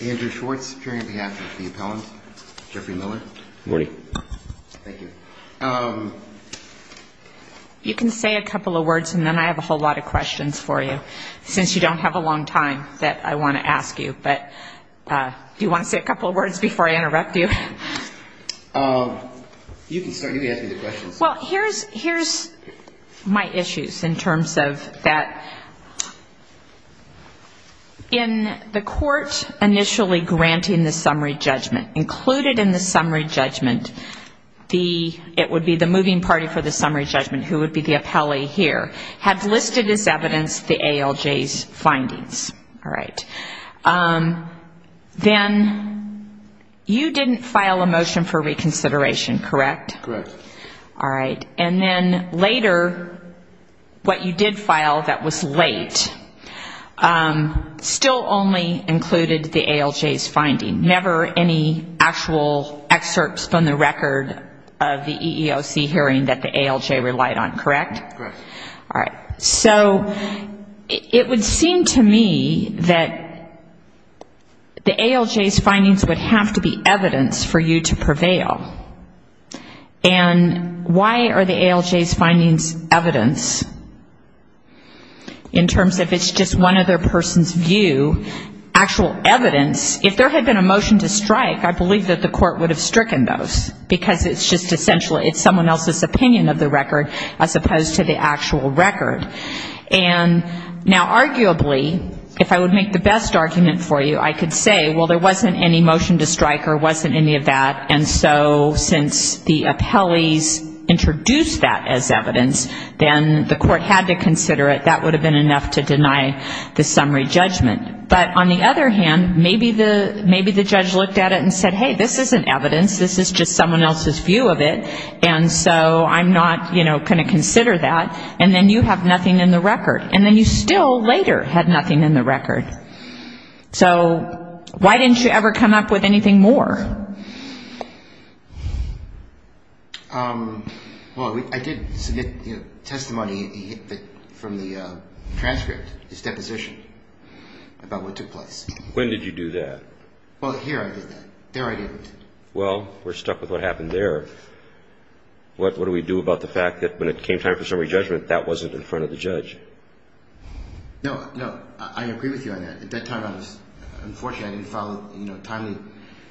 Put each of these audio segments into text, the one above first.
Andrew Schwartz, appearing on behalf of the appellant. Jeffrey Miller. Good morning. Thank you. You can say a couple of words, and then I have a whole lot of questions for you, since you don't have a long time that I want to ask you. But do you want to say a couple of words before I interrupt you? You can start. You can ask me the questions. Well, here's my issues in terms of that. In the court initially granting the summary judgment, included in the summary judgment, it would be the moving party for the summary judgment, who would be the appellee here, had listed as evidence the ALJ's findings. Then you didn't file a motion for reconsideration, correct? Correct. All right. And then later, what you did file that was late, still only included the ALJ's findings. Never any actual excerpts from the record of the EEOC hearing that the ALJ relied on, correct? Correct. All right. So it would seem to me that the ALJ's findings would have to be evidence for you to prevail. And why are the ALJ's findings evidence? In terms of it's just one other person's view, actual evidence, if there had been a motion to strike, I believe that the court would have stricken those, because it's just essentially, it's someone else's opinion of the record as opposed to the actual record. And now arguably, if I would make the best argument for you, I could say, well, there wasn't any motion to strike or wasn't any of that. And so since the appellees introduced that as evidence, then the court had to consider it. That would have been enough to deny the summary judgment. But on the other hand, maybe the judge looked at it and said, hey, this isn't evidence. This is just someone else's view of it. And so I'm not going to consider that. And then you have nothing in the record. And then you still later had nothing in the record. So why didn't you ever come up with anything more? Well, I did submit testimony from the transcript, this deposition, about what took place. When did you do that? Well, here I did that. There I didn't. Well, we're stuck with what happened there. What do we do about the fact that when it came time for summary judgment, that wasn't in front of the judge? No, no. I agree with you on that. At that time, unfortunately, I didn't follow timely.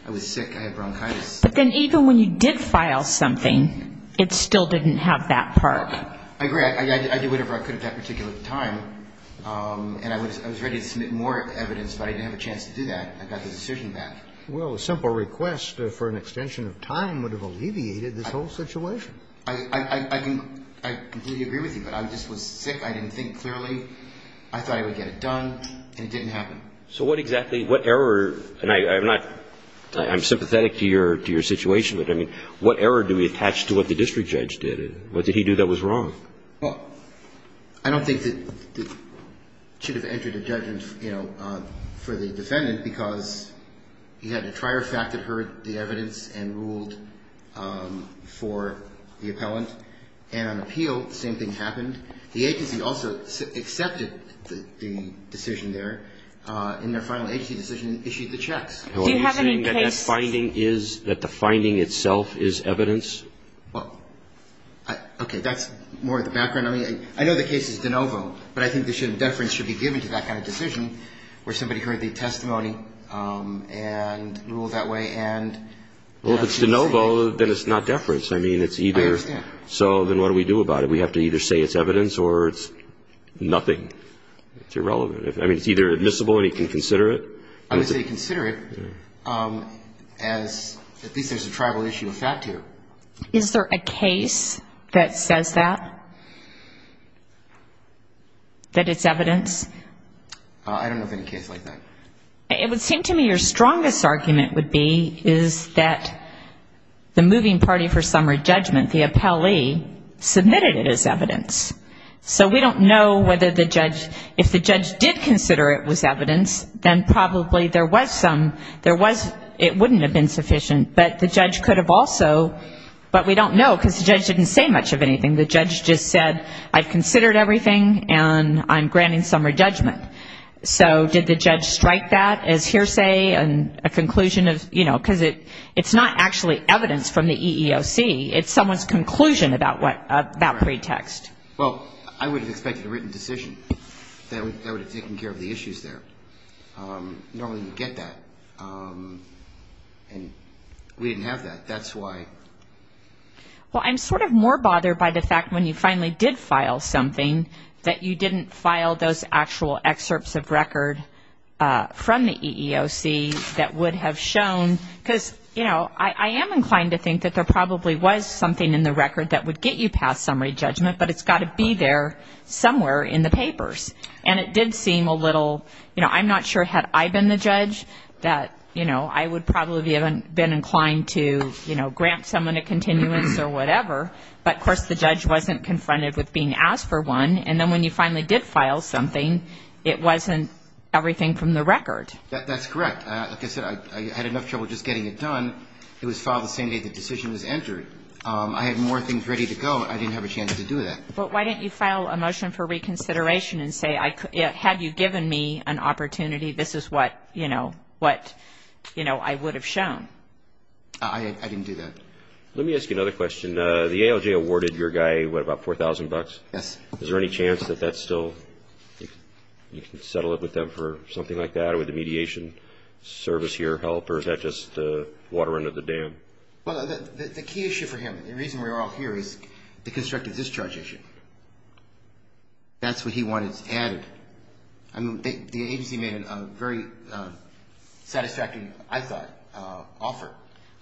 I was sick. I had bronchitis. But then even when you did file something, it still didn't have that part. I agree. I did whatever I could at that particular time. And I was ready to submit more evidence, but I didn't have a chance to do that. I got the decision back. Well, a simple request for an extension of time would have alleviated this whole situation. I completely agree with you. But I just was sick. I didn't think clearly. I thought I would get it done, and it didn't happen. So what exactly, what error, and I'm sympathetic to your situation, but, I mean, what error do we attach to what the district judge did? What did he do that was wrong? Well, I don't think that it should have entered a judgment for the defendant because he had to try her fact that heard the evidence and ruled for the appellant. And on appeal, the same thing happened. The agency also accepted the decision there. In their final agency decision, issued the checks. Do you have any case? Are you saying that that finding is, that the finding itself is evidence? Well, okay. That's more of the background. I mean, I know the case is de novo, but I think the deference should be given to that kind of decision where somebody heard the testimony and ruled that way and... Well, if it's de novo, then it's not deference. I mean, it's either... I understand. So then what do we do about it? We have to either say it's evidence or it's nothing. It's irrelevant. I mean, it's either admissible and he can consider it. I would say consider it as at least there's a tribal issue with that, too. Is there a case that says that, that it's evidence? I don't know of any case like that. It would seem to me your strongest argument would be is that the moving party for summary judgment, the appellee, submitted it as evidence. So we don't know whether the judge, if the judge did consider it was evidence, then probably there was some, there was, it wouldn't have been sufficient, but the judge could have also, but we don't know because the judge didn't say much of anything. The judge just said I've considered everything and I'm granting summary judgment. So did the judge strike that as hearsay and a conclusion of, you know, because it's not actually evidence from the EEOC. It's someone's conclusion about what, about pretext. Well, I would have expected a written decision that would have taken care of the issues there. Normally you get that, and we didn't have that. That's why. Well, I'm sort of more bothered by the fact when you finally did file something that you didn't file those actual excerpts of record from the EEOC that would have shown, because, you know, I am inclined to think that there probably was something in the record that would get you past summary judgment, but it's got to be there somewhere in the papers. And it did seem a little, you know, I'm not sure had I been the judge that, you know, I would probably have been inclined to, you know, grant someone a continuance or whatever, but of course the judge wasn't confronted with being asked for one. And then when you finally did file something, it wasn't everything from the record. That's correct. Like I said, I had enough trouble just getting it done. It was filed the same day the decision was entered. I had more things ready to go. I didn't have a chance to do that. But why didn't you file a motion for reconsideration and say, had you given me an opportunity, this is what, you know, what, you know, I would have shown? I didn't do that. Let me ask you another question. The ALJ awarded your guy, what, about $4,000? Yes. Is there any chance that that's still, you can settle it with them for something like that with the mediation service here help, or is that just water under the dam? Well, the key issue for him, the reason we're all here, is the constructive discharge issue. That's what he wanted added. I mean, the agency made a very satisfactory, I thought, offer.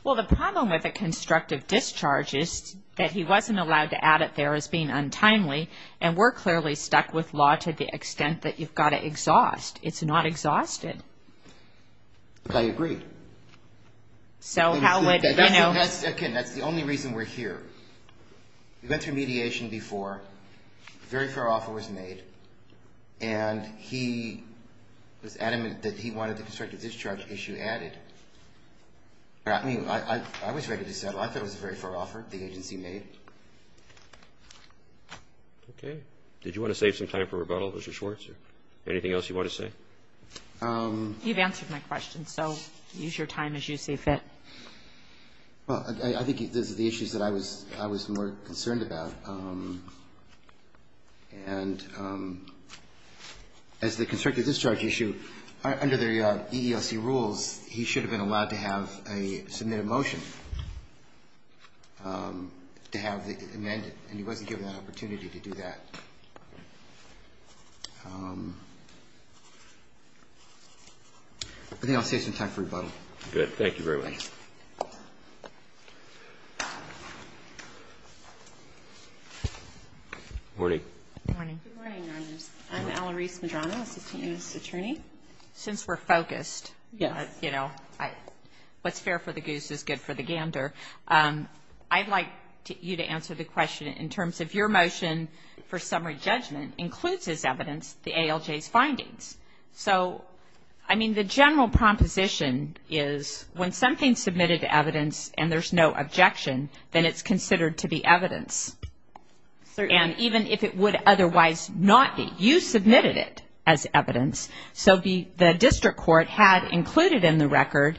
Well, the problem with a constructive discharge is that he wasn't allowed to add it there as being untimely, and we're clearly stuck with law to the extent that you've got to exhaust. It's not exhausted. I agree. So how would, you know. Again, that's the only reason we're here. We went through mediation before, a very fair offer was made, and he was adamant that he wanted the constructive discharge issue added. I mean, I was ready to settle. I thought it was a very fair offer the agency made. Okay. Did you want to save some time for rebuttal, Mr. Schwartz, or anything else you want to say? You've answered my question, so use your time as you see fit. Well, I think these are the issues that I was more concerned about. And as the constructive discharge issue, under the EELC rules, he should have been allowed to have a submitted motion to have it amended, and he wasn't given that opportunity to do that. I think I'll save some time for rebuttal. Good. Thank you very much. Good morning. Good morning. Good morning, Your Honors. I'm Alarise Medrano, assistant U.S. attorney. Since we're focused, you know, what's fair for the goose is good for the gander. I'd like you to answer the question in terms of your motion for summary judgment includes as evidence the ALJ's findings. So, I mean, the general proposition is when something's submitted to evidence and there's no objection, then it's considered to be evidence. And even if it would otherwise not be, you submitted it as evidence. So the district court had included in the record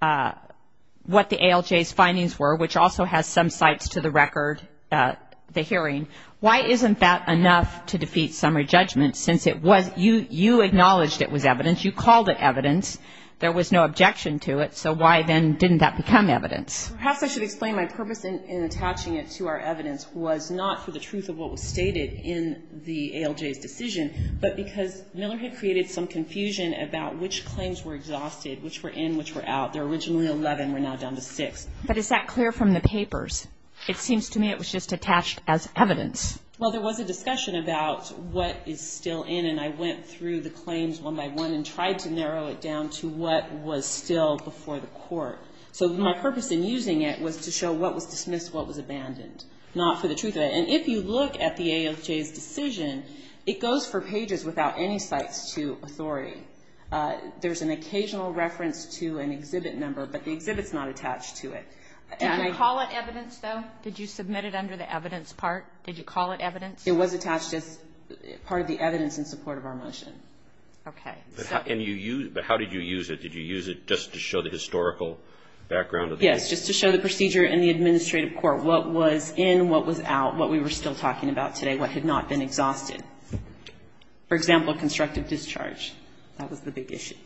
what the ALJ's findings were, which also has some sites to the record, the hearing. Why isn't that enough to defeat summary judgment since it was, you acknowledged it was evidence, you called it evidence, there was no objection to it, so why then didn't that become evidence? Perhaps I should explain my purpose in attaching it to our evidence was not for the truth of what was stated in the ALJ's decision, but because Miller had created some confusion about which claims were exhausted, which were in, which were out. There were originally 11. We're now down to six. But is that clear from the papers? It seems to me it was just attached as evidence. Well, there was a discussion about what is still in, and I went through the claims one by one and tried to narrow it down to what was still before the court. So my purpose in using it was to show what was dismissed, what was abandoned, not for the truth of it. And if you look at the ALJ's decision, it goes for pages without any sites to authority. There's an occasional reference to an exhibit number, but the exhibit's not attached to it. Did you call it evidence, though? Did you submit it under the evidence part? Did you call it evidence? It was attached as part of the evidence in support of our motion. Okay. But how did you use it? Did you use it just to show the historical background of the case? Yes, just to show the procedure in the administrative court, what was in, what was out, what we were still talking about today, what had not been exhausted. For example, constructive discharge. That was the big issue.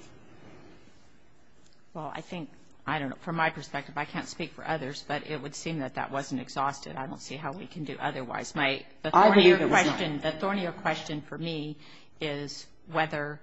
Well, I think, I don't know, from my perspective, I can't speak for others, but it would seem that that wasn't exhausted. I don't see how we can do otherwise. I believe it was not. The thornier question for me is whether,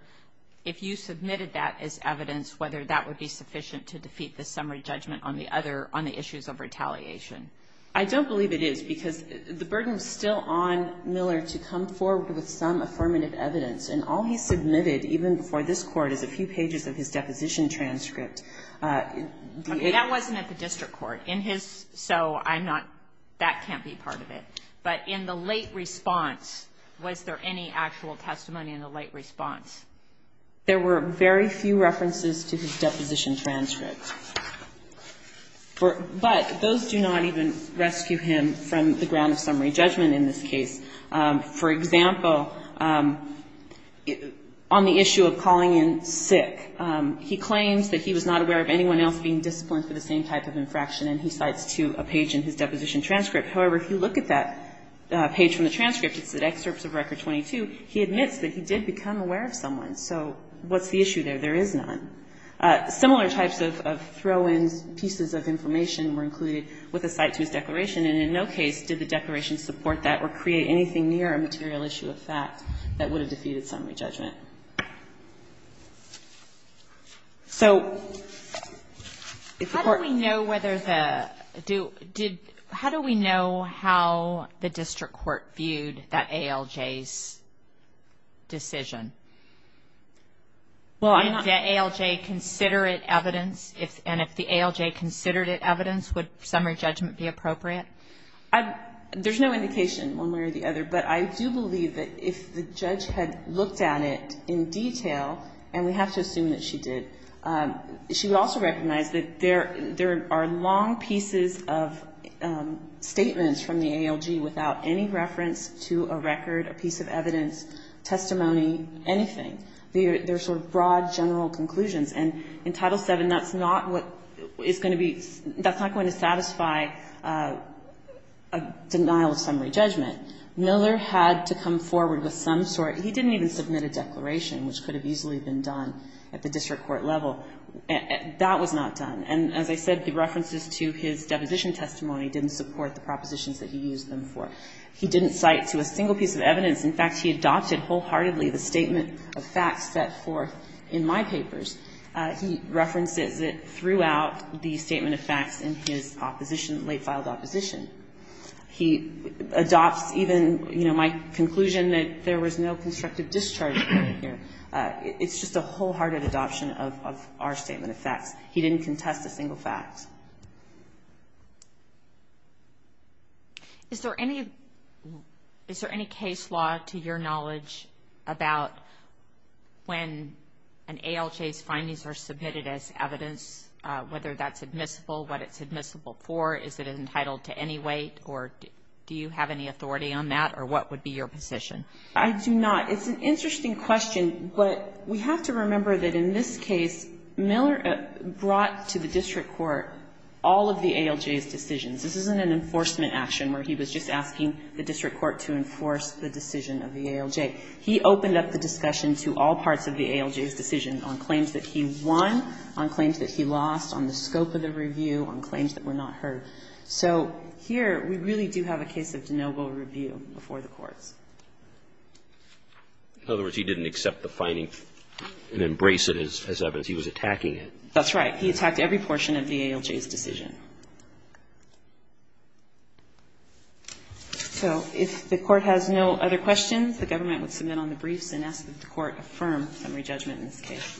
if you submitted that as evidence, whether that would be sufficient to defeat the summary judgment on the other, on the issues of retaliation. I don't believe it is, because the burden is still on Miller to come forward with some affirmative evidence. And all he submitted, even before this Court, is a few pages of his deposition transcript. That wasn't at the district court. In his, so I'm not, that can't be part of it. But in the late response, was there any actual testimony in the late response? There were very few references to his deposition transcript. But those do not even rescue him from the ground of summary judgment in this case. For example, on the issue of calling in sick, he claims that he was not aware of anyone else being disciplined for the same type of infraction, and he cites to a page in his deposition transcript. However, if you look at that page from the transcript, it's at excerpts of Record 22, he admits that he did become aware of someone. So what's the issue there? There is none. Similar types of throw-in pieces of information were included with a cite to his declaration. And in no case did the declaration support that or create anything near a material issue of fact that would have defeated summary judgment. So if the Court ---- How do we know whether the, do, did, how do we know how the district court viewed that ALJ's decision? Well, I'm not ---- Did the ALJ consider it evidence? And if the ALJ considered it evidence, would summary judgment be appropriate? There's no indication one way or the other. But I do believe that if the judge had looked at it in detail, and we have to assume that she did, she would also recognize that there are long pieces of statements from the ALJ without any reference to a record, a piece of evidence, testimony, anything. They're sort of broad, general conclusions. And in Title VII, that's not what is going to be, that's not going to satisfy a denial of summary judgment. Miller had to come forward with some sort, he didn't even submit a declaration, which could have easily been done at the district court level. That was not done. And as I said, the references to his deposition testimony didn't support the evidence that he used them for. He didn't cite to a single piece of evidence. In fact, he adopted wholeheartedly the statement of facts set forth in my papers. He references it throughout the statement of facts in his opposition, late-filed opposition. He adopts even, you know, my conclusion that there was no constructive discharging here. It's just a wholehearted adoption of our statement of facts. He didn't contest a single fact. Is there any case law, to your knowledge, about when an ALJ's findings are submitted as evidence, whether that's admissible, what it's admissible for, is it entitled to any weight, or do you have any authority on that, or what would be your position? I do not. It's an interesting question, but we have to remember that in this case, Miller brought to the district court all of the ALJ's decisions. This isn't an enforcement action where he was just asking the district court to enforce the decision of the ALJ. He opened up the discussion to all parts of the ALJ's decision on claims that he won, on claims that he lost, on the scope of the review, on claims that were not heard. So here, we really do have a case of de novo review before the courts. In other words, he didn't accept the findings and embrace it as evidence. He was attacking it. That's right. He attacked every portion of the ALJ's decision. So if the Court has no other questions, the government would submit on the briefs and ask that the Court affirm summary judgment in this case.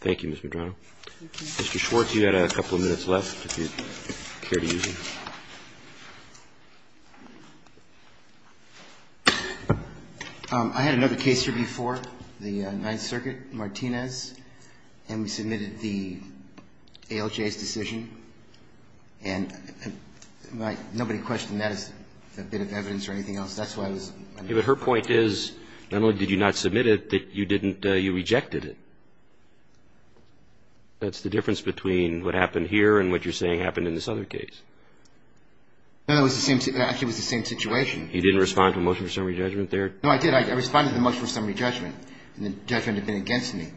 Thank you, Ms. Medrano. Thank you. Mr. Schwartz, you had a couple of minutes left, if you care to use them. I had another case here before, the Ninth Circuit, Martinez, and we submitted the ALJ's decision. And nobody questioned that as a bit of evidence or anything else. That's why I was wondering. But her point is not only did you not submit it, that you rejected it. That's the difference between what happened here and what you're saying happened in this other case. No, it was the same situation. You didn't respond to a motion for summary judgment there? No, I did. I responded to the motion for summary judgment, and the judgment had been against me.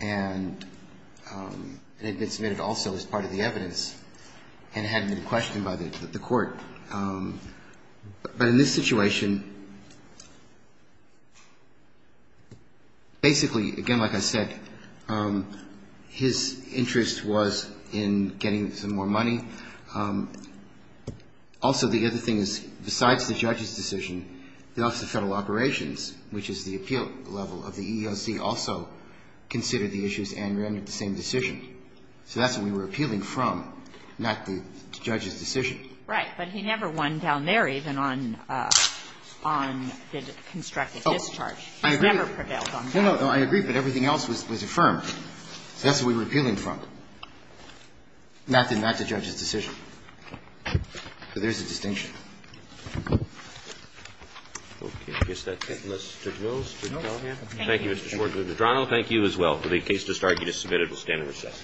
And it had been submitted also as part of the evidence and hadn't been questioned by the Court. But in this situation, basically, again, like I said, his interest was in getting some more money. Also, the other thing is, besides the judge's decision, the Office of Federal Operations, which is the appeal level of the EEOC, also considered the issues and rendered the same decision. So that's what we were appealing from, not the judge's decision. Right. But he never won down there, even on the constructed discharge. He never prevailed on that. No, no. I agree, but everything else was affirmed. That's what we were appealing from, not the judge's decision. So there's a distinction. Okay. I guess that's it. Mr. Jones, did you have a hand? Thank you. Thank you, Mr. Schwartz. Mr. Drano, thank you as well for the case. This argument is submitted. We'll stand in recess.